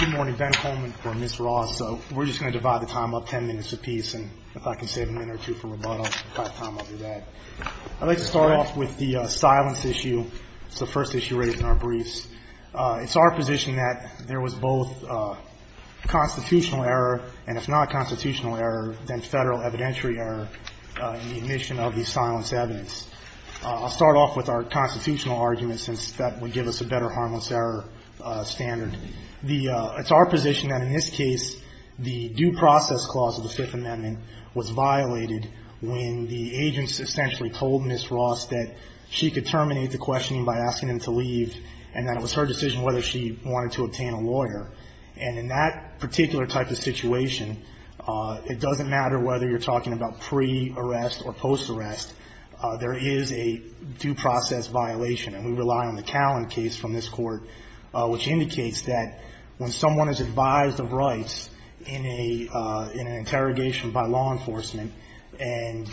Good morning, Ben Coleman for Ms. Ross. We're just going to divide the time up ten minutes apiece and if I can save a minute or two for rebuttal, I'll do that. I'd like to start off with the silence issue. It's the first issue raised in our briefs. It's our position that there was both constitutional error and if not constitutional error, then federal evidentiary error in the admission of the silence evidence. I'll start off with our constitutional error standard. It's our position that in this case, the due process clause of the Fifth Amendment was violated when the agents essentially told Ms. Ross that she could terminate the questioning by asking him to leave and that it was her decision whether she wanted to obtain a lawyer. And in that particular type of situation, it doesn't matter whether you're talking about pre-arrest or post-arrest, there is a due process violation and we rely on the Callan case from this Court, which indicates that when someone is advised of rights in an interrogation by law enforcement, and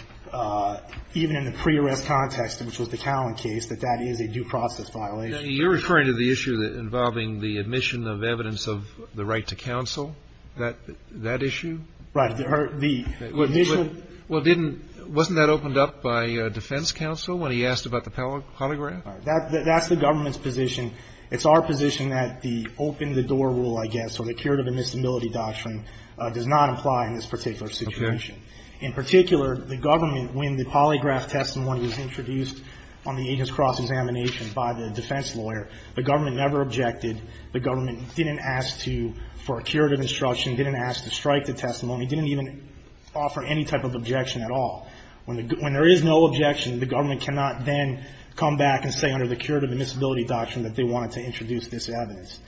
even in the pre-arrest context, which was the Callan case, that that is a due process violation. Sotomayor You're referring to the issue involving the admission of evidence of the right to counsel, that issue? ROSS Right. The initial ---- Sotomayor Well, didn't — wasn't that opened up by defense counsel when he asked about the polygraph? ROSS That's the government's position. It's our position that the open-the-door rule, I guess, or the curative admissibility doctrine does not apply in this particular situation. In particular, the government, when the polygraph testimony was introduced on the agents' cross-examination by the defense lawyer, the government never objected. The government didn't ask to — for a curative instruction, didn't ask to strike the testimony, didn't even offer any type of objection at all. When there is no objection, the government cannot then come back and say under the curative admissibility doctrine that they wanted to introduce this evidence.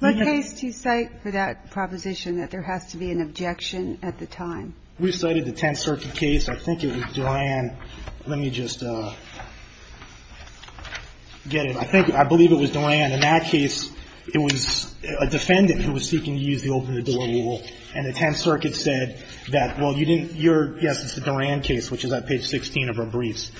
Kagan What case do you cite for that proposition, that there has to be an objection at the time? ROSS We cited the Tenth Circuit case. I think it was Duran. Let me just get it. I think — I believe it was Duran. In that case, it was a defendant who was seeking to use the open-the-door rule, and the Tenth Circuit said that, well, you didn't your — yes, it's the Duran case, which is at page 16 of our briefs,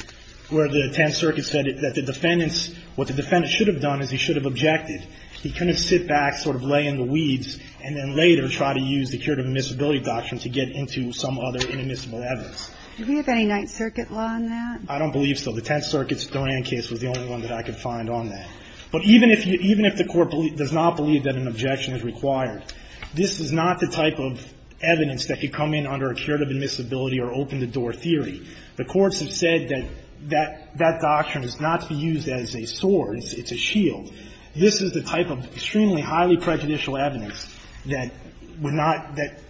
where the Tenth Circuit said that the defendant's — what the defendant should have done is he should have objected. He couldn't sit back, sort of lay in the weeds, and then later try to use the curative admissibility doctrine to get into some other inadmissible evidence. Kagan Do we have any Ninth Circuit law on that? ROSS I don't believe so. The Tenth Circuit's Duran case was the only one that I could find on that. But even if you — even if the Court does not believe that an objection to curative admissibility or open-the-door theory, the courts have said that that doctrine is not to be used as a sword. It's a shield. This is the type of extremely highly prejudicial evidence that would not — that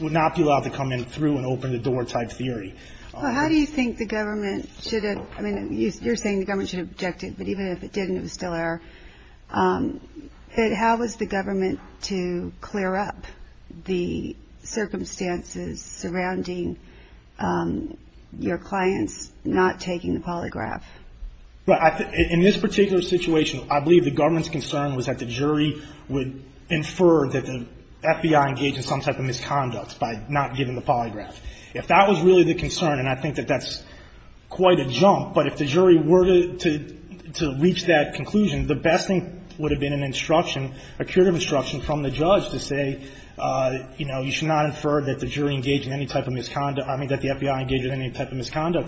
would not be allowed to come in through an open-the-door-type theory. Kagan Do how do you think the government should have — I mean, you're saying the government should have objected, but even if it didn't, it was still error. I'm saying that the government should have objected to the fact that the jury was recommending your clients not taking the polygraph. ROSS In this particular situation, I believe the government's concern was that the FBI engaged in any type of misconduct in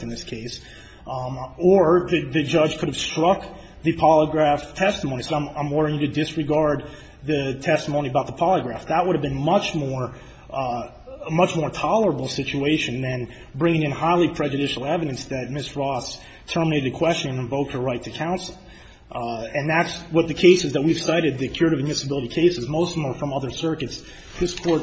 this case, or the judge could have struck the polygraph testimony. So I'm ordering you to disregard the testimony about the polygraph. That would have been much more — a much more tolerable situation than bringing in highly prejudicial evidence that Ms. Ross terminated the question and invoked her right to counsel. And that's what the cases that we've cited, the curative admissibility cases, most of them are from other circuits. This Court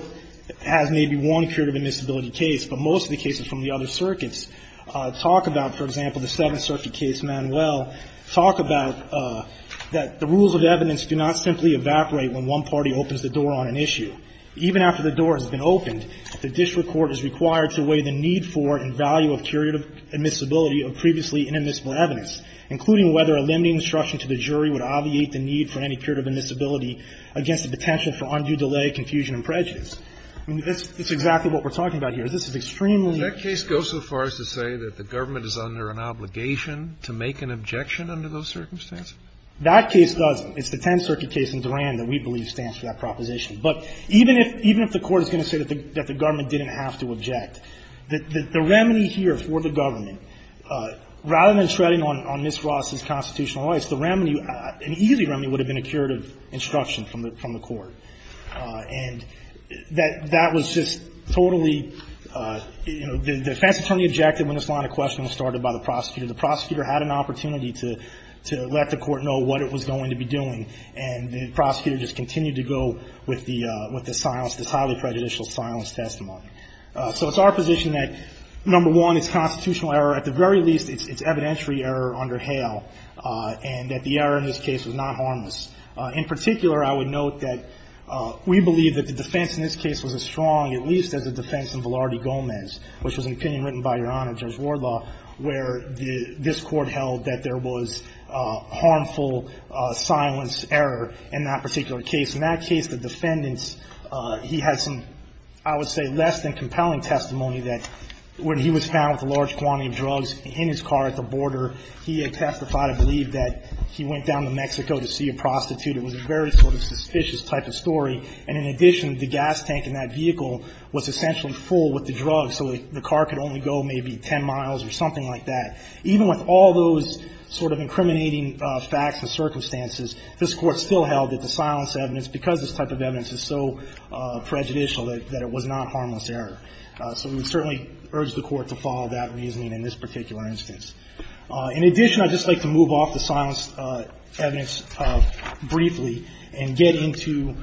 has maybe one curative admissibility case, but most of the cases from the other circuits talk about, for example, the Seventh Circuit case, Manuel, talk about that the rules of evidence do not simply evaporate when one party opens the door on an issue. Even after the door has been opened, the district court is required to weigh the need for and value of curative admissibility of previously inadmissible evidence, including whether a limiting instruction to the jury would obviate the need for any new delay, confusion and prejudice. I mean, that's exactly what we're talking about here. This is extremely — Kennedy. That case goes so far as to say that the government is under an obligation to make an objection under those circumstances? That case doesn't. It's the Tenth Circuit case in Durand that we believe stands for that proposition. But even if the Court is going to say that the government didn't have to object, the remedy here for the government, rather than shredding on Ms. Ross's constitutional rights, the remedy, an easy remedy would have been a curative instruction from the district court. And that was just totally — you know, the defense attorney objected when this line of questioning was started by the prosecutor. The prosecutor had an opportunity to let the Court know what it was going to be doing, and the prosecutor just continued to go with the silence, this highly prejudicial silence testimony. So it's our position that, number one, it's constitutional error. At the very least, it's evidentiary error under Hale, and that the error in this case was not harmless. In particular, I would note that we believe that the defense in this case was as strong, at least as the defense in Velarde Gomez, which was an opinion written by Your Honor, Judge Wardlaw, where this Court held that there was harmful silence error in that particular case. In that case, the defendant, he had some, I would say, less than compelling testimony that when he was found with a large quantity of drugs in his car at the border, he had testified, I believe, that he went down to Mexico to see a prostitute. It was a very sort of suspicious type of story. And in addition, the gas tank in that vehicle was essentially full with the drugs, so the car could only go maybe 10 miles or something like that. Even with all those sort of incriminating facts and circumstances, this Court still held that the silence evidence, because this type of evidence is so prejudicial, that it was not harmless error. So we certainly urge the Court to follow that reasoning in this particular instance. In addition, I'd just like to move off the silence evidence briefly and get into,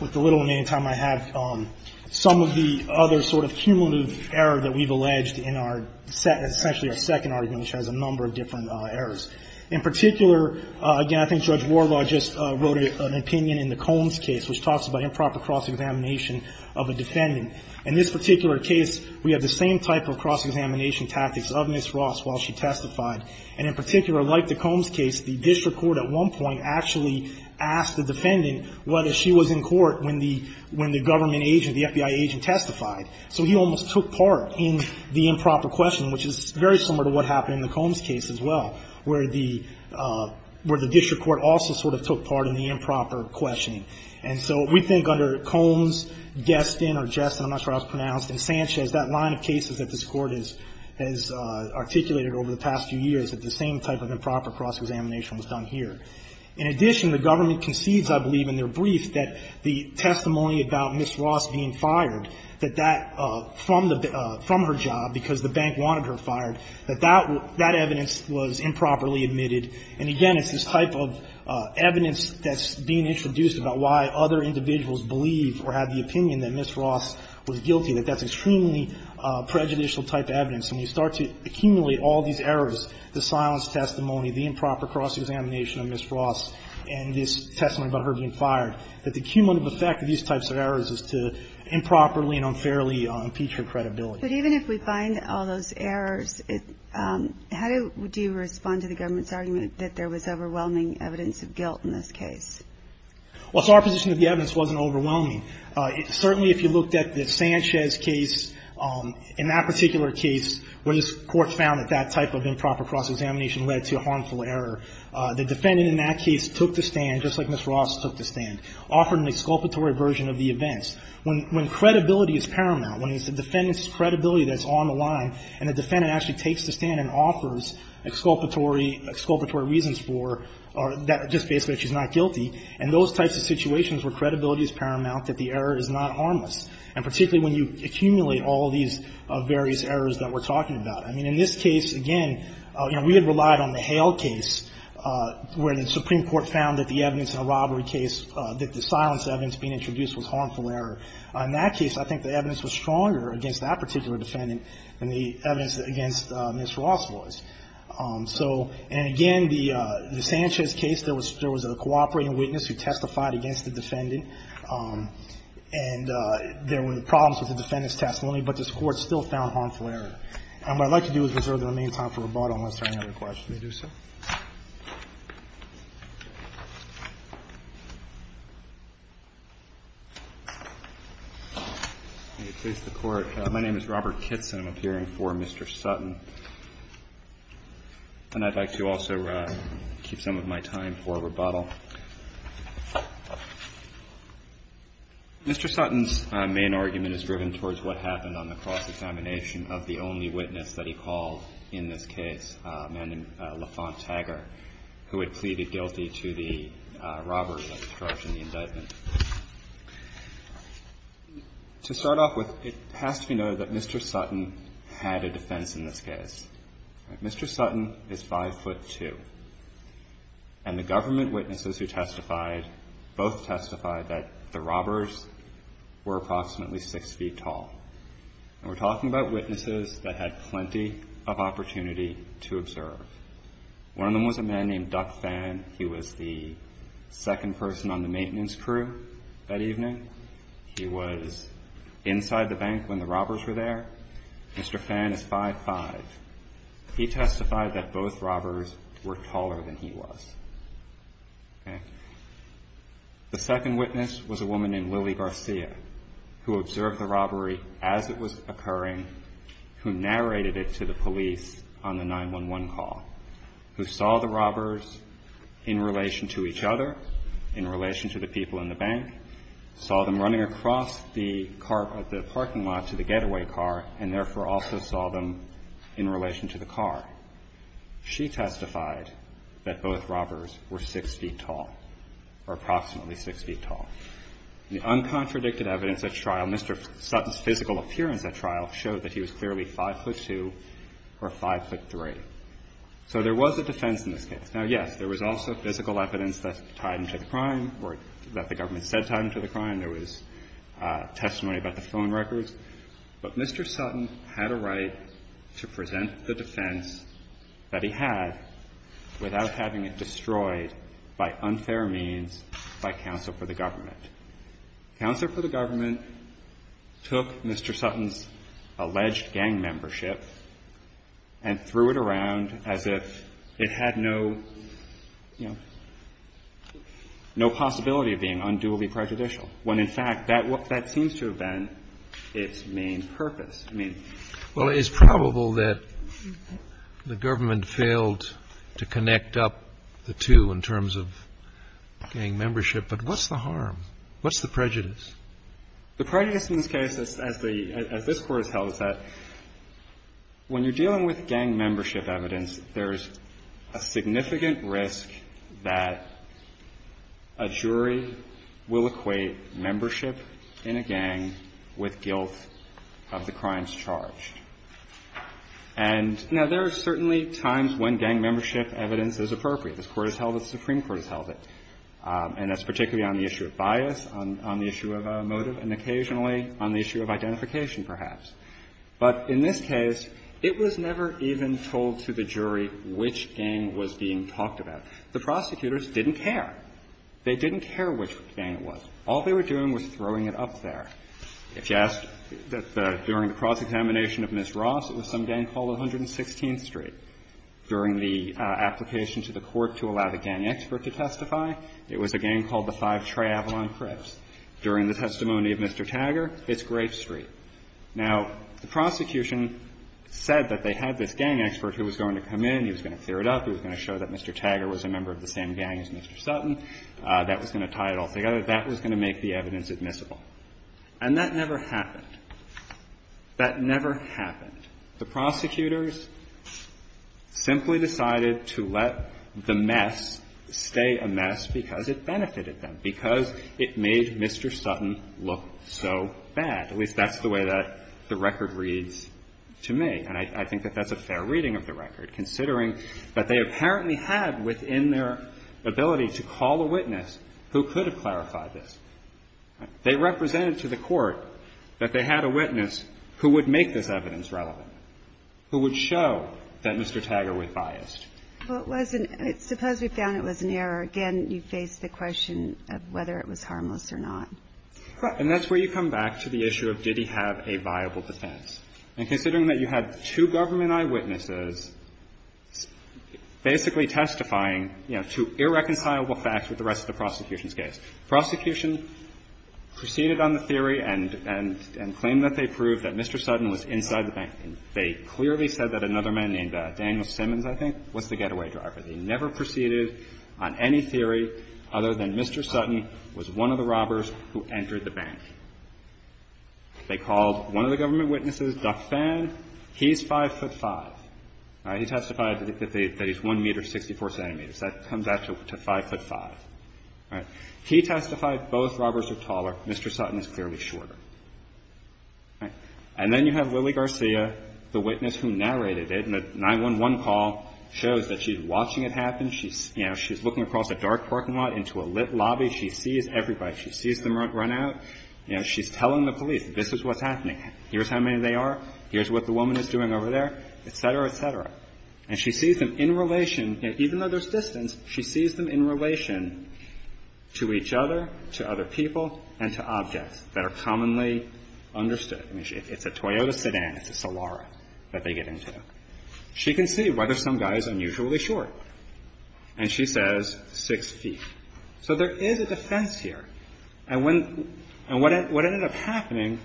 with the little remaining time I have, some of the other sort of cumulative error that we've alleged in our essentially our second argument, which has a number of different errors. In particular, again, I think Judge Wardlaw just wrote an opinion in the Combs case, which talks about improper cross-examination of a defendant. In this particular case, we have the same type of cross-examination tactics of Ms. Ross while she testified. And in particular, like the Combs case, the district court at one point actually asked the defendant whether she was in court when the government agent, the FBI agent, testified. So he almost took part in the improper questioning, which is very similar to what happened in the Combs case as well, where the district court also sort of took part in the improper questioning. And so we think under Combs, Geston, or Geston, as Ms. Ross pronounced, and Sanchez, that line of cases that this Court has articulated over the past few years, that the same type of improper cross-examination was done here. In addition, the government concedes, I believe in their brief, that the testimony about Ms. Ross being fired, that that, from the, from her job, because the bank wanted her fired, that that evidence was improperly admitted. And again, it's this type of evidence that's being introduced about why other individuals believe or have the was guilty, that that's extremely prejudicial-type evidence. And you start to accumulate all these errors, the silence testimony, the improper cross-examination of Ms. Ross, and this testimony about her being fired, that the cumulative effect of these types of errors is to improperly and unfairly impeach her credibility. But even if we find all those errors, how do you respond to the government's argument that there was overwhelming evidence of guilt in this case? Well, it's our position that the evidence wasn't overwhelming. Certainly, if you looked at the Sanchez case, in that particular case, when this court found that that type of improper cross-examination led to a harmful error, the defendant in that case took the stand, just like Ms. Ross took the stand, offered an exculpatory version of the events. When credibility is paramount, when it's the defendant's credibility that's on the line, and the defendant actually takes the stand and offers exculpatory reasons for that, just basically that she's not guilty, and those types of situations where credibility is paramount, that the error is not harmless, and particularly when you accumulate all these various errors that we're talking about. I mean, in this case, again, you know, we had relied on the Hale case, where the Supreme Court found that the evidence in the robbery case, that the silence evidence being introduced was harmful error. In that case, I think the evidence was stronger against that particular defendant than the evidence against Ms. Ross was. So, and again, the Sanchez case, there was a cooperating witness who testified against the defendant, and there were problems with the defendant's testimony, but this Court still found harmful error. And what I'd like to do is reserve the remaining time for rebuttal unless there are any other questions. If you'll do so. Robert Kitson, I'm appearing for Mr. Sutton. And I'd like to also keep some of my time for rebuttal. Mr. Sutton's main argument is driven towards what happened on the cross-examination of the only witness that he called in this case, a man named LaFont Tagger, who had pleaded guilty to the robbery of the charge in the indictment. To start off with, it has to be noted that Mr. Sutton had a defense in this case. Mr. Sutton is 5'2", and the government witnesses who testified both testified that the robbers were approximately 6 feet tall. And we're talking about witnesses that had plenty of opportunity to observe. One of them was a man named Duck Fan. He was the second person on the maintenance crew that evening. He was inside the bank when the robbers were there. Mr. Fan is 5'5". He testified that both robbers were taller than he was. The second witness was a woman named Lily Garcia, who observed the robbery as it was occurring, who narrated it to the police on the 911 call, who saw the robbers in relation to each other, in relation to the people in the bank, saw them running across the parking lot to the getaway car, and therefore also saw them in relation to the car. She testified that both robbers were 6 feet tall, or approximately 6 feet tall. The uncontradicted evidence at trial, Mr. Sutton's physical appearance at trial, showed that he was clearly 5'2", or 5'3". So there was a defense in this case. Now, yes, there was also physical evidence that's tied into the crime, or that the government said tied into the crime. There was testimony about the phone records. But Mr. Sutton had a right to present the defense that he had without having it destroyed by unfair means by counsel for the government. Counsel for the government took Mr. Sutton's alleged gang membership and threw it around as if it had no, you know, no possibility of being unduly prejudicial, when in fact that seems to have been its main purpose. I mean... Well, it's probable that the government failed to connect up the two in terms of gang membership, but what's the harm? What's the prejudice? The prejudice in this case, as the – as this Court has held, is that when you're dealing with gang membership evidence, there's a significant risk that a jury will equate membership in a gang with guilt of the crimes charged. And now, there are certainly times when gang membership evidence is appropriate. This Court has held it, the Supreme Court has held it, and that's particularly on the issue of bias, on the issue of motive, and occasionally on the issue of identification, perhaps. But in this case, it was never even told to the jury which gang was being talked about. The prosecutors didn't care. They didn't care which gang it was. All they were doing was throwing it up there. If you ask that during the cross-examination of Ms. Ross, it was some gang called 116th Street. During the application to the Court to allow the gang expert to testify, it was a gang called the 5 Triavlon Crips. During the testimony of Mr. Taggart, it's Grape Street. Now, the prosecution said that they had this gang expert who was going to come in, he was going to clear it up, he was going to show that Mr. Taggart was a member of the same gang as Mr. Sutton. That was going to tie it all together. That was going to make the evidence admissible. And that never happened. That never happened. The prosecutors simply decided to let the mess stay a mess because it benefited them, because it made Mr. Sutton look so bad. At least that's the way that the record reads to me. And I think that that's a fair reading of the record, considering that they apparently had within their ability to call a witness who could have clarified this. They represented to the Court that they had a witness who would make this evidence relevant, who would show that Mr. Taggart was biased. Well, it wasn't – suppose we found it was an error. Again, you face the question of whether it was harmless or not. And that's where you come back to the issue of did he have a viable defense. And considering that you had two government eyewitnesses basically testifying, you know, to irreconcilable facts with the rest of the prosecution's case. Prosecution proceeded on the theory and claimed that they proved that Mr. Sutton was inside the bank. And they clearly said that another man named Daniel Simmons, I think, was the getaway driver. They never proceeded on any theory other than Mr. Sutton was one of the robbers who entered the bank. They called one of the government witnesses, Duff Fan. He's 5'5". All right. He testified that he's 1 meter, 64 centimeters. That comes back to 5'5". All right. He testified both robbers are taller. Mr. Sutton is clearly shorter. All right. And then you have Lily Garcia, the witness who narrated it. And the 911 call shows that she's watching it happen. She's, you know, she's looking across a dark parking lot into a lit lobby. She sees everybody. She sees them run out. You know, she's telling the police, this is what's happening. Here's how many they are. Here's what the woman is doing over there, et cetera, et cetera. And she sees them in relation, even though there's distance, she sees them in relation to each other, to other people, and to objects that are commonly understood. I mean, it's a Toyota sedan. It's a Celara that they get into. She can see whether some guy is unusually short. And she says 6 feet. So there is a defense here. And when – and what ended up happening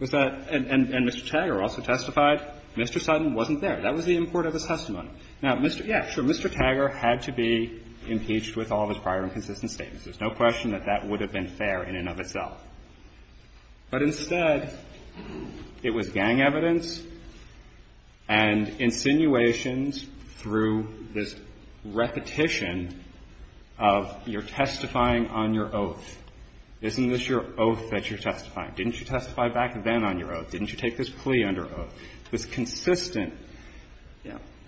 was that – and Mr. Taggart also testified. Mr. Sutton wasn't there. That was the import of his testimony. Now, Mr. – yeah, sure, Mr. Taggart had to be impeached with all of his prior inconsistent statements. There's no question that that would have been fair in and of itself. But instead, it was gang evidence and insinuations through this repetition of you're testifying on your oath. Isn't this your oath that you're testifying? Didn't you stop that when the judge admonished him about his plea under oath? It was consistent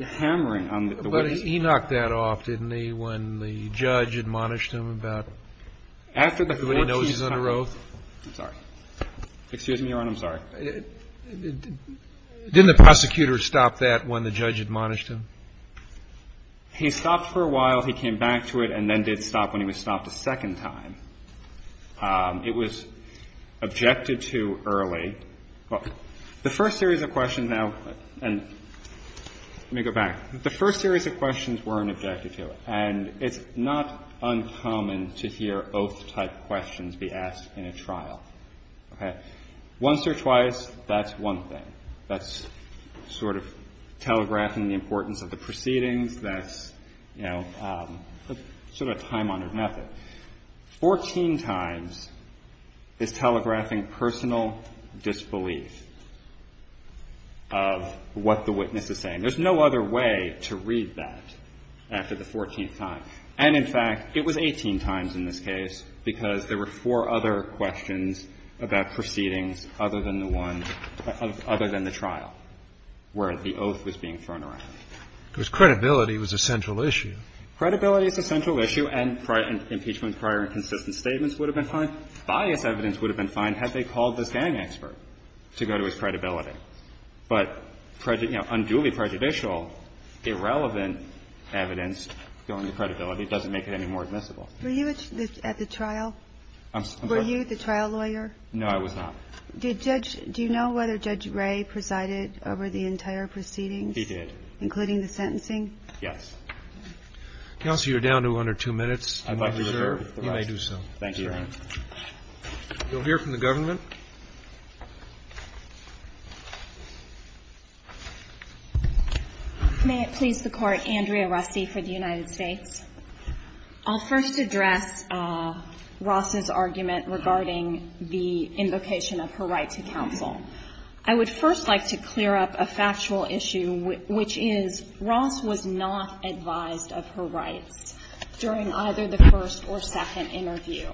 hammering on the witness. But he knocked that off, didn't he, when the judge admonished him about – After the 14th time. Everybody knows he's under oath. I'm sorry. Excuse me, Your Honor. I'm sorry. Didn't the prosecutor stop that when the judge admonished him? He stopped for a while. He came back to it and then did stop when he was stopped a second time. It was objected to early. The first series of questions now – and let me go back. The first series of questions weren't objected to, and it's not uncommon to hear oath-type questions be asked in a trial. Okay? Once or twice, that's one thing. That's sort of telegraphing the importance of the proceedings. That's, you know, sort of a time-honored method. Fourteen times is telegraphing personal disbelief of what the witness is saying. There's no other way to read that after the 14th time. And, in fact, it was 18 times in this case because there were four other questions about proceedings other than the one – other than the trial where the oath was being thrown around. And the question was, did the judge have the right to do that? The question is, did the judge have the right to do that? Because credibility was a central issue. Credibility is a central issue, and prior – impeachment prior and consistent statements would have been fine. Bias evidence would have been fine had they called this gang expert to go to his credibility. But, you know, unduly prejudicial, irrelevant evidence going to credibility doesn't make it any more admissible. Were you at the trial? I'm sorry? Were you the trial lawyer? No, I was not. Did Judge – do you know whether Judge Ray presided over the entire proceedings? He did. Including the sentencing? Yes. Counsel, you're down to under two minutes. I'd like to reserve the right. You may do so. Thank you, Your Honor. You'll hear from the government. May it please the Court. Andrea Rusty for the United States. I'll first address Ross's argument regarding the invocation of her right to counsel. I would first like to clear up a factual issue, which is Ross was not advised of her rights during either the first or second interview.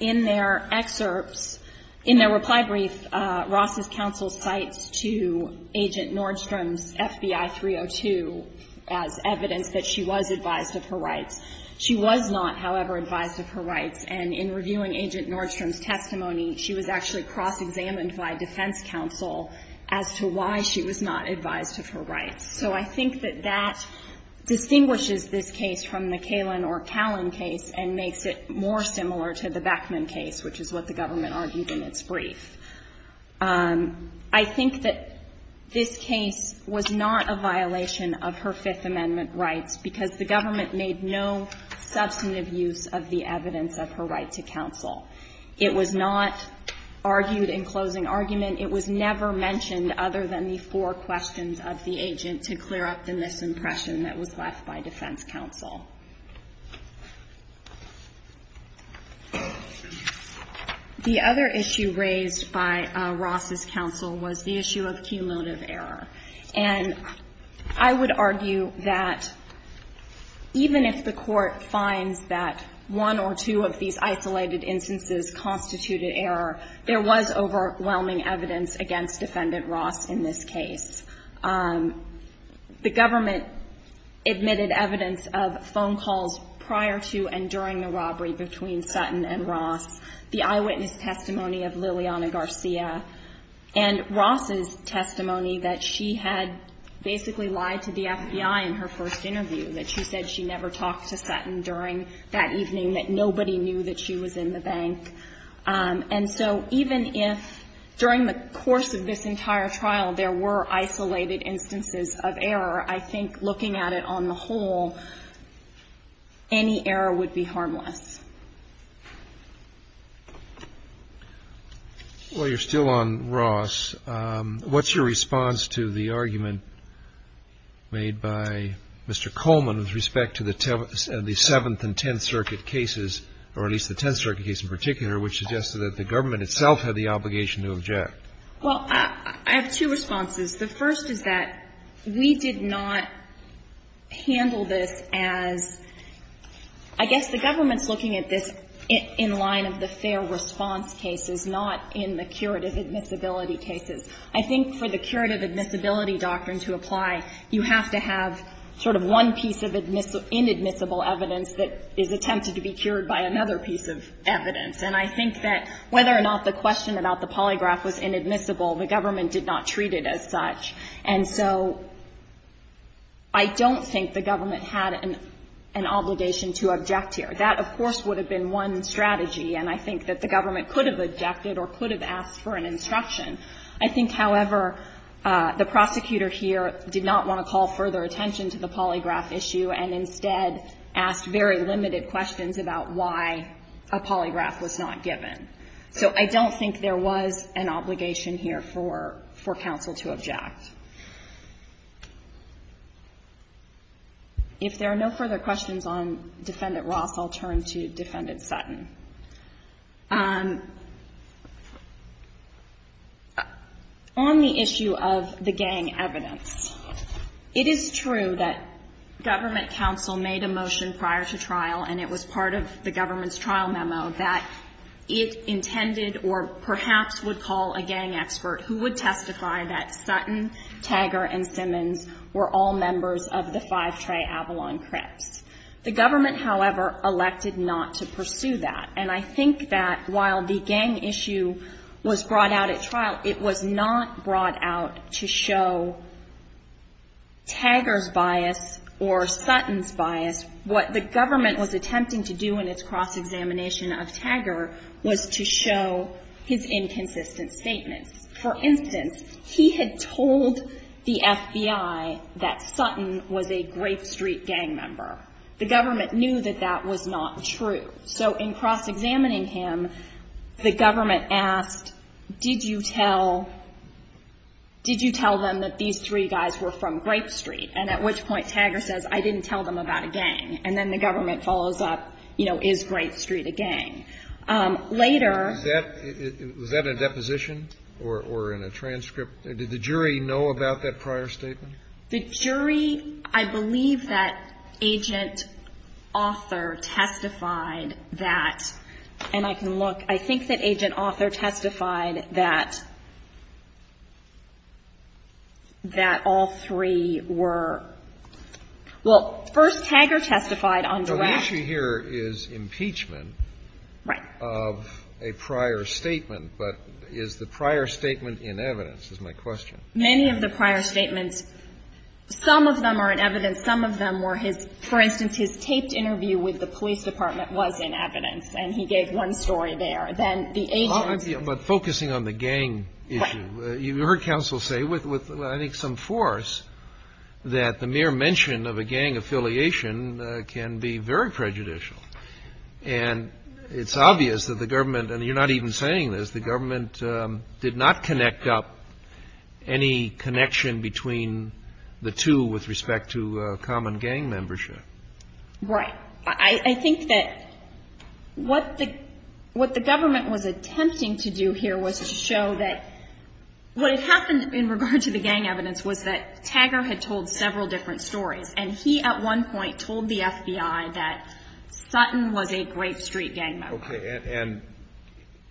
In their excerpts, in their reply brief, Ross's counsel cites to Agent Nordstrom's FBI 302 as evidence that she was advised of her rights. She was not, however, advised of her rights. And in reviewing Agent Nordstrom's testimony, she was actually cross-examined by defense counsel as to why she was not advised of her rights. So I think that that distinguishes this case from the Kalin or Kalin case and makes it more similar to the Beckman case, which is what the government argued in its brief. I think that this case was not a violation of her Fifth Amendment rights because the government made no substantive use of the evidence of her right to counsel. It was not argued in closing argument. It was never mentioned other than the four questions of the agent to clear up the The other issue raised by Ross's counsel was the issue of cumulative error. And I would argue that even if the Court finds that one or two of these isolated instances constituted error, there was overwhelming evidence against Defendant Ross in this case. The government admitted evidence of phone calls prior to and during the robbery between Sutton and Ross, the eyewitness testimony of Liliana Garcia, and Ross's testimony that she had basically lied to the FBI in her first interview, that she said she never talked to Sutton during that evening, that nobody knew that she was in the bank. And so even if during the course of this entire trial there were isolated instances of error, I think looking at it on the whole, any error would be harmless. Well, you're still on Ross. What's your response to the argument made by Mr. Coleman with respect to the Seventh and Tenth Circuit cases, or at least the Tenth Circuit case in particular, which suggested that the government itself had the obligation to object? Well, I have two responses. The first is that we did not handle this as – I guess the government's looking at this in line of the fair response cases, not in the curative admissibility cases. I think for the curative admissibility doctrine to apply, you have to have sort of one piece of inadmissible evidence that is attempted to be cured by another piece of evidence. And I think that whether or not the question about the polygraph was inadmissible, the government did not treat it as such. And so I don't think the government had an obligation to object here. That, of course, would have been one strategy, and I think that the government could have objected or could have asked for an instruction. I think, however, the prosecutor here did not want to call further attention to the polygraph issue and instead asked very limited questions about why a polygraph was not given. So I don't think there was an obligation here for counsel to object. If there are no further questions on Defendant Ross, I'll turn to Defendant Sutton. On the issue of the gang evidence, it is true that government counsel made a motion prior to trial, and it was part of the government's trial memo, that it intended or perhaps would call a gang expert who would testify that Sutton, Tagger, and Simmons were all members of the Five Trey Avalon Crips. The government, however, elected not to pursue that. And I think that while the gang issue was brought out at trial, it was not brought out to show Tagger's bias or Sutton's bias. What the government was attempting to do in its cross-examination of Tagger was to show his inconsistent statements. For instance, he had told the FBI that Sutton was a Grape Street gang member. The government knew that that was not true. So in cross-examining him, the government asked, did you tell them that these three guys were from Grape Street? And at which point Tagger says, I didn't tell them about a gang. And then the government follows up, you know, is Grape Street a gang? Later — Was that a deposition or in a transcript? Did the jury know about that prior statement? The jury, I believe that Agent Author testified that, and I can look, I think that Agent Author testified that, that all three were — well, first, Tagger testified on direct — No. The issue here is impeachment of a prior statement. But is the prior statement in evidence, is my question. Many of the prior statements, some of them are in evidence. Some of them were his — for instance, his taped interview with the police department was in evidence, and he gave one story there. Then the agent — But focusing on the gang issue, you heard counsel say with, I think, some force that the mere mention of a gang affiliation can be very prejudicial. And it's obvious that the government, and you're not even saying this, the government did not connect up any connection between the two with respect to common gang membership. Right. I think that what the government was attempting to do here was to show that what had happened in regard to the gang evidence was that Tagger had told several different stories, and he at one point told the FBI that Sutton was a Grape Street gang member. Okay. And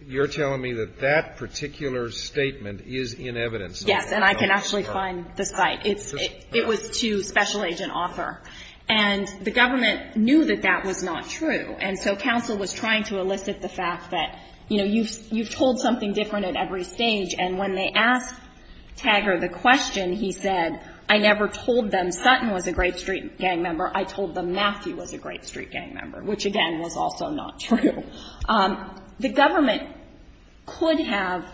you're telling me that that particular statement is in evidence. Yes. And I can actually find the site. It was to special agent author. And the government knew that that was not true, and so counsel was trying to elicit the fact that, you know, you've told something different at every stage, and when they asked Tagger the question, he said, I never told them Sutton was a Grape Street gang member. I told them Matthew was a Grape Street gang member, which, again, was also not true. The government could have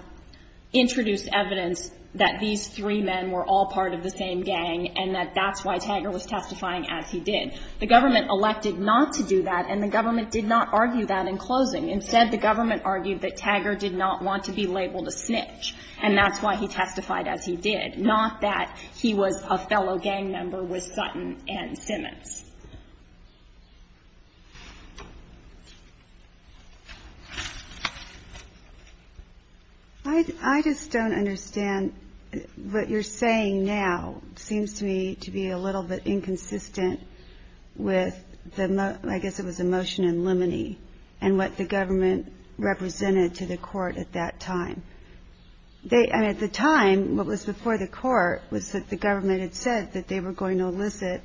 introduced evidence that these three men were all part of the same gang, and that that's why Tagger was testifying as he did. The government elected not to do that, and the government did not argue that in closing. Instead, the government argued that Tagger did not want to be labeled a snitch, and that's why he testified as he did, not that he was a fellow gang member with Sutton and Simmons. I just don't understand what you're saying now. It seems to me to be a little bit inconsistent with the, I guess it was a motion in limine, and what the government represented to the court at that time. And at the time, what was before the court was that the government had said that they were going to elicit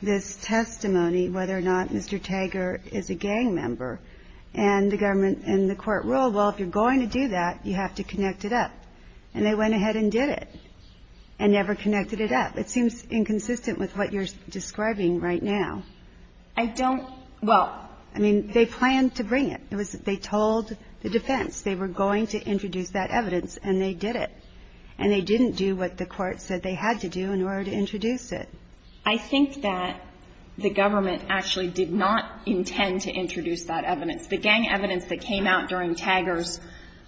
this testimony, whether or not Mr. Tagger is a gang member. And the government and the court ruled, well, if you're going to do that, you have to connect it up. And they went ahead and did it, and never connected it up. It seems inconsistent with what you're describing right now. I don't, well. I mean, they planned to bring it. It was, they told the defense they were going to introduce that evidence, and they did it. And they didn't do what the court said they had to do in order to introduce it. I think that the government actually did not intend to introduce that evidence. The gang evidence that came out during Tagger's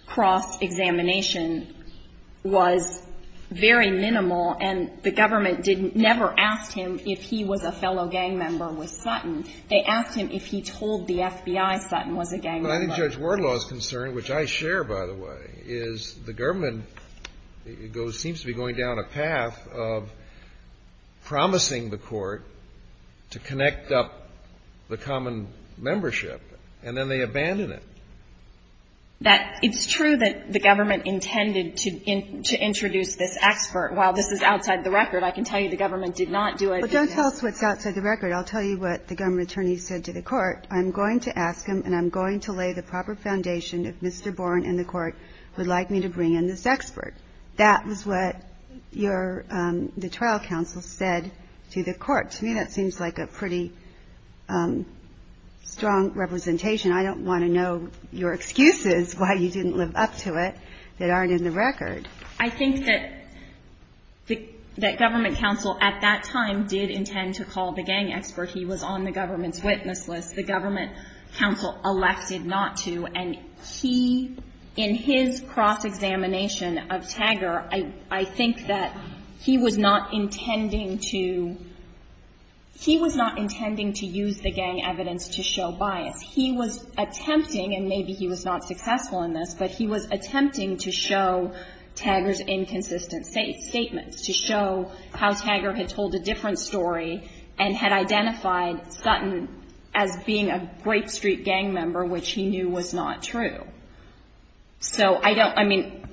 cross-examination was very minimal, and the government didn't, never asked him if he was a fellow gang member with Sutton. They asked him if he told the FBI Sutton was a gang member. But I think Judge Wardlaw's concern, which I share, by the way, is the government seems to be going down a path of promising the court to connect up the common membership, and then they abandon it. That it's true that the government intended to introduce this expert. While this is outside the record, I can tell you the government did not do it. Well, don't tell us what's outside the record. I'll tell you what the government attorney said to the court. I'm going to ask him, and I'm going to lay the proper foundation if Mr. Bourne and the court would like me to bring in this expert. That was what the trial counsel said to the court. To me, that seems like a pretty strong representation. I don't want to know your excuses why you didn't live up to it that aren't in the record. I think that government counsel at that time did intend to call the gang expert. He was on the government's witness list. The government counsel elected not to. And he, in his cross-examination of Tagger, I think that he was not intending to use the gang evidence to show bias. He was attempting, and maybe he was not successful in this, but he was attempting to show Tagger's inconsistent statements, to show how Tagger had told a different story and had identified Sutton as being a Grape Street gang member, which he knew was not true. So I don't, I mean,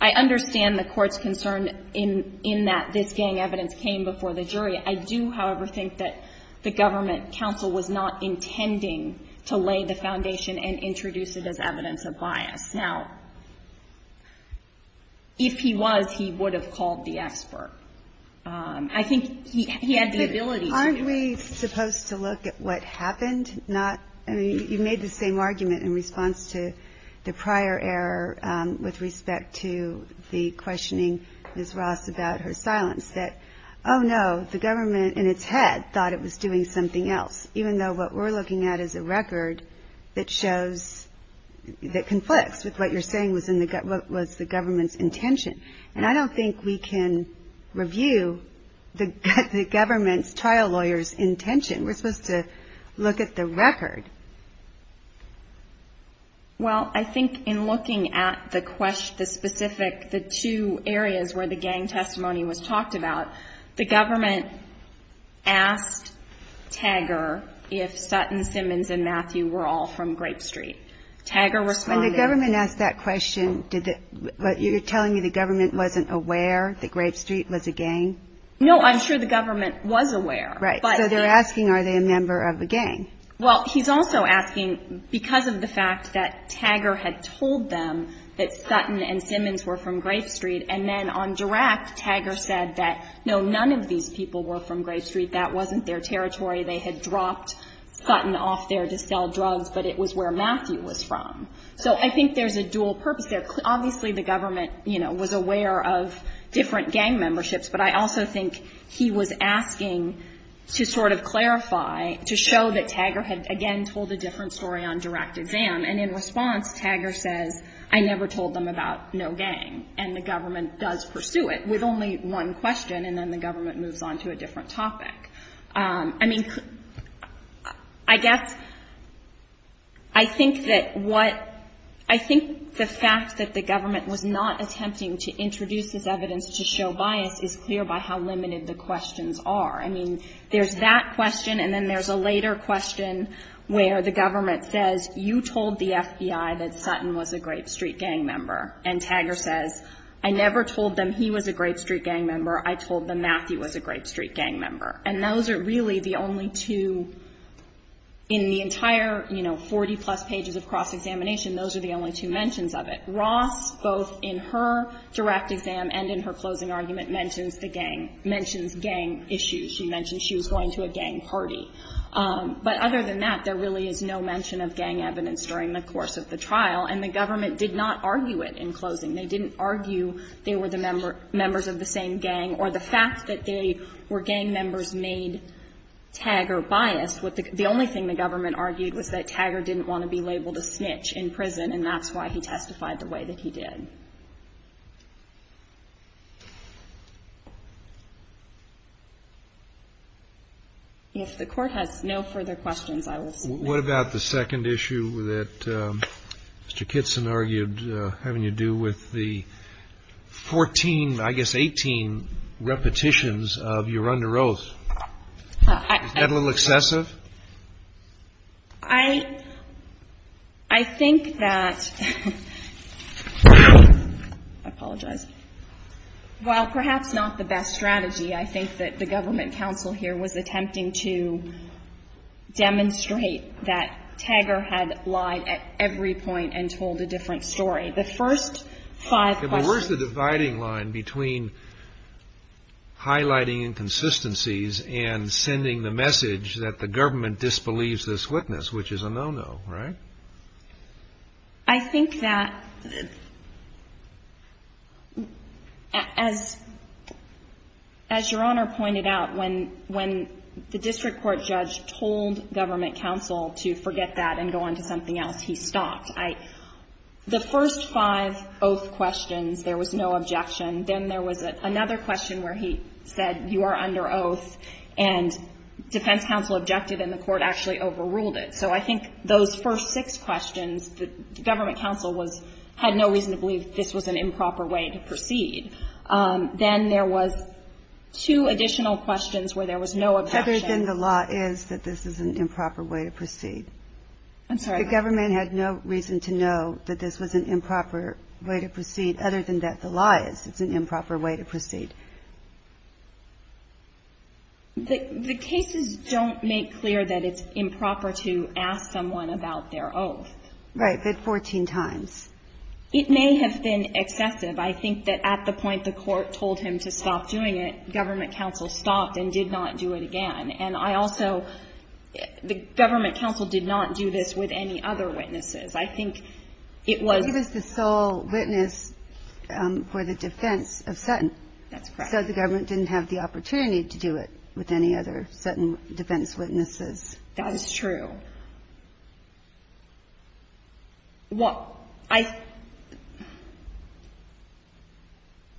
I understand the court's concern in that this gang evidence came before the jury. I do, however, think that the government counsel was not intending to lay the foundation and introduce it as evidence of bias. Now, if he was, he would have called the expert. I think he had the ability to do that. Aren't we supposed to look at what happened? Not, I mean, you made the same argument in response to the prior error with respect to the questioning Ms. Ross about her silence, that, oh, no, the government in its head thought it was doing something else, even though what we're looking at is a record that shows, that conflicts with what you're saying was the government's intention. And I don't think we can review the government's trial lawyer's intention. We're supposed to look at the record. Well, I think in looking at the specific, the two areas where the gang testimony was talked about, the government asked Tagger if Sutton, Simmons, and Matthew were all from Grape Street. Tagger responded. The government asked that question. You're telling me the government wasn't aware that Grape Street was a gang? No, I'm sure the government was aware. Right. So they're asking, are they a member of a gang? Well, he's also asking, because of the fact that Tagger had told them that Sutton and Simmons were from Grape Street, and then on direct, Tagger said that, no, none of these people were from Grape Street. That wasn't their territory. They had dropped Sutton off there to sell drugs, but it was where Matthew was from. So I think there's a dual purpose there. Obviously, the government, you know, was aware of different gang memberships, but I also think he was asking to sort of clarify, to show that Tagger had again told a different story on direct exam. And in response, Tagger says, I never told them about no gang, and the government does pursue it with only one question, and then the government moves on to a different topic. I mean, I guess, I think that what, I think the fact that the government was not attempting to introduce this evidence to show bias is clear by how limited the questions are. I mean, there's that question, and then there's a later question where the government says, you told the FBI that Sutton was a Grape Street gang member. And Tagger says, I never told them he was a Grape Street gang member. I told them Matthew was a Grape Street gang member. And those are really the only two, in the entire, you know, 40-plus pages of cross-examination, those are the only two mentions of it. Ross, both in her direct exam and in her closing argument, mentions the gang, mentions gang issues. She mentioned she was going to a gang party. But other than that, there really is no mention of gang evidence during the course of the trial, and the government did not argue it in closing. They didn't argue they were the members of the same gang or the fact that they were gang members made Tagger biased. The only thing the government argued was that Tagger didn't want to be labeled a snitch in prison, and that's why he testified the way that he did. If the Court has no further questions, I will submit. What about the second issue that Mr. Kitson argued having to do with the 14, I guess, 18 repetitions of your under oath? Isn't that a little excessive? I think that, I apologize. While perhaps not the best strategy, I think that the government counsel here was attempting to demonstrate that Tagger had lied at every point and told a different story. The first five questions. But where's the dividing line between highlighting inconsistencies and sending the message that the government disbelieves this witness, which is a no-no, right? I think that, as Your Honor pointed out, when the district court judge told government counsel to forget that and go on to something else, he stopped. The first five oath questions, there was no objection. Then there was another question where he said you are under oath, and defense counsel objected and the Court actually overruled it. So I think those first six questions, the government counsel had no reason to believe this was an improper way to proceed. Then there was two additional questions where there was no objection. The law is that this is an improper way to proceed. I'm sorry. The government had no reason to know that this was an improper way to proceed, other than that the law is it's an improper way to proceed. The cases don't make clear that it's improper to ask someone about their oath. Right. But 14 times. It may have been excessive. I think that at the point the Court told him to stop doing it, government counsel stopped and did not do it again. And I also, the government counsel did not do this with any other witnesses. I think it was the sole witness for the defense of Sutton. That's correct. So the government didn't have the opportunity to do it with any other Sutton defense witnesses. That is true.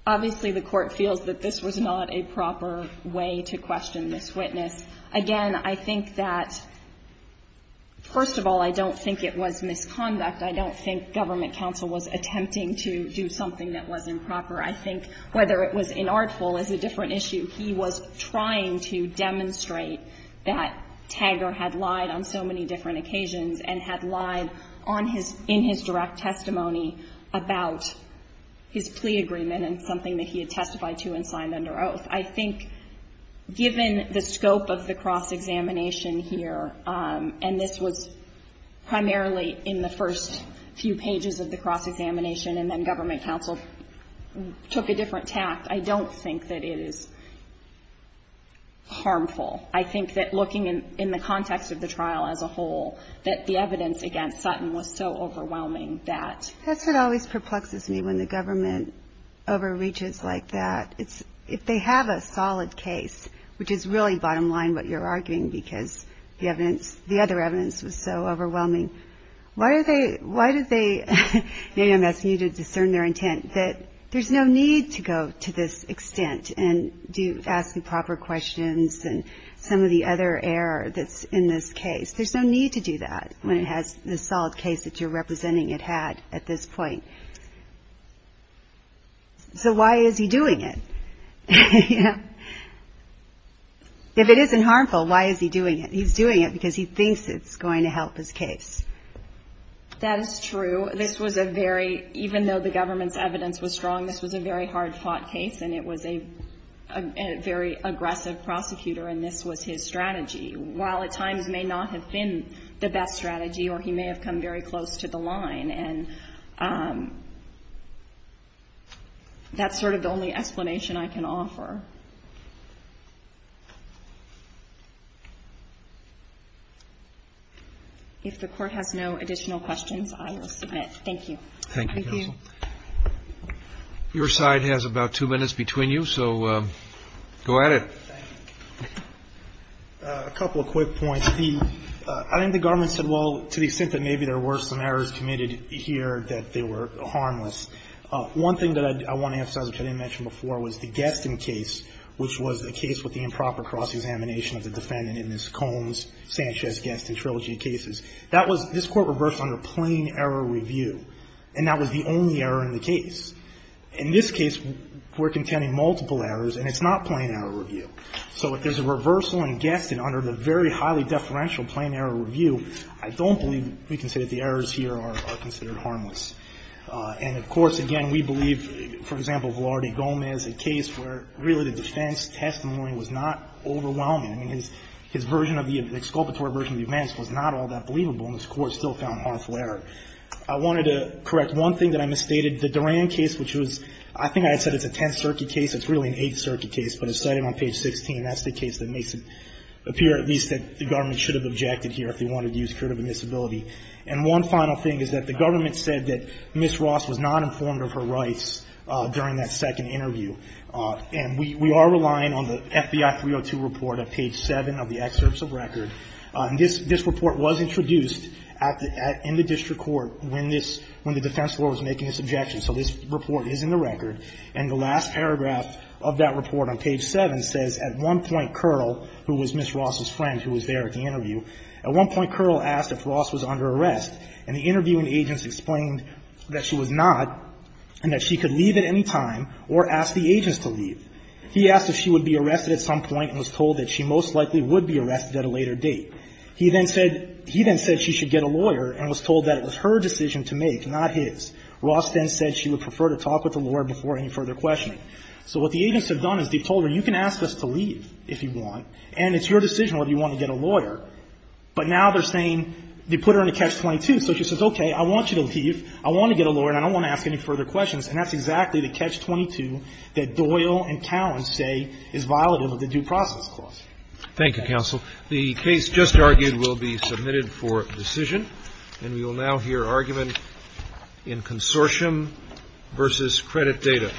Obviously, the Court feels that this was not a proper way to question this witness. Again, I think that, first of all, I don't think it was misconduct. I don't think government counsel was attempting to do something that was improper. I think whether it was inartful is a different issue. He was trying to demonstrate that Taggart had lied on so many different occasions and had lied on his — in his direct testimony about his plea agreement and something that he had testified to and signed under oath. I think given the scope of the cross-examination here, and this was primarily in the first few pages of the cross-examination and then government counsel took a different tact, I don't think that it is harmful. I think that looking in the context of the trial as a whole, that the evidence against Sutton was so overwhelming that — That's what always perplexes me when the government overreaches like that. It's — if they have a solid case, which is really, bottom line, what you're arguing, because the evidence — the other evidence was so overwhelming, why are they — why did they — maybe I'm asking you to discern their intent — that there's no need to go to this extent and do — ask the proper questions and some of the other error that's in this case. There's no need to do that when it has the solid case that you're representing it had at this point. So why is he doing it? If it isn't harmful, why is he doing it? He's doing it because he thinks it's going to help his case. That is true. This was a very — even though the government's evidence was strong, this was a very hard-fought case, and it was a very aggressive prosecutor, and this was his strategy. While at times may not have been the best strategy or he may have come very close to the line, and that's sort of the only explanation I can offer. If the court has no additional questions, I will submit. Thank you. Thank you, counsel. Your side has about two minutes between you, so go at it. A couple of quick points. I think the government said, well, to the extent that maybe there were some errors committed here that they were harmless. One thing that I want to emphasize, which I didn't mention before, was the Geston case, which was the case with the improper cross-examination of the defendant in this Combs-Sanchez-Geston trilogy of cases. That was — this Court reversed under plain error review, and that was the only error in the case. In this case, we're contending multiple errors, and it's not plain error review. So if there's a reversal in Geston under the very highly deferential plain error review, I don't believe we can say that the errors here are considered harmless. And, of course, again, we believe, for example, Velarde Gomez, a case where really the defense testimony was not overwhelming. I mean, his version of the — the exculpatory version of the events was not all that believable, and this Court still found harmful error. I wanted to correct one thing that I misstated. The Duran case, which was — I think I had said it's a Tenth Circuit case. It's really an Eighth Circuit case, but it's cited on page 16. That's the case that makes it appear, at least, that the government should have objected here if they wanted to use curative admissibility. And one final thing is that the government said that Ms. Ross was not informed of her rights during that second interview. And we are relying on the FBI 302 report at page 7 of the excerpts of record. This report was introduced at the — in the district court when this — when the defense lawyer was making this objection. So this report is in the record. And the last paragraph of that report on page 7 says, at one point, Kerrle, who was Ms. Ross's friend who was there at the interview, at one point, Kerrle asked if Ross was under arrest. And the interviewing agents explained that she was not, and that she could leave at any time or ask the agents to leave. He asked if she would be arrested at some point and was told that she most likely would be arrested at a later date. He then said — he then said she should get a lawyer and was told that it was her decision to make, not his. Ross then said she would prefer to talk with the lawyer before any further questioning. So what the agents have done is they've told her, you can ask us to leave if you want, and it's your decision whether you want to get a lawyer. But now they're saying — they put her in a catch-22. So she says, okay, I want you to leave, I want to get a lawyer, and I don't want to ask any further questions. And that's exactly the catch-22 that Doyle and Cowan say is violative of the due process clause. Thank you, counsel. The case just argued will be submitted for decision. And we will now hear argument in consortium versus credit data.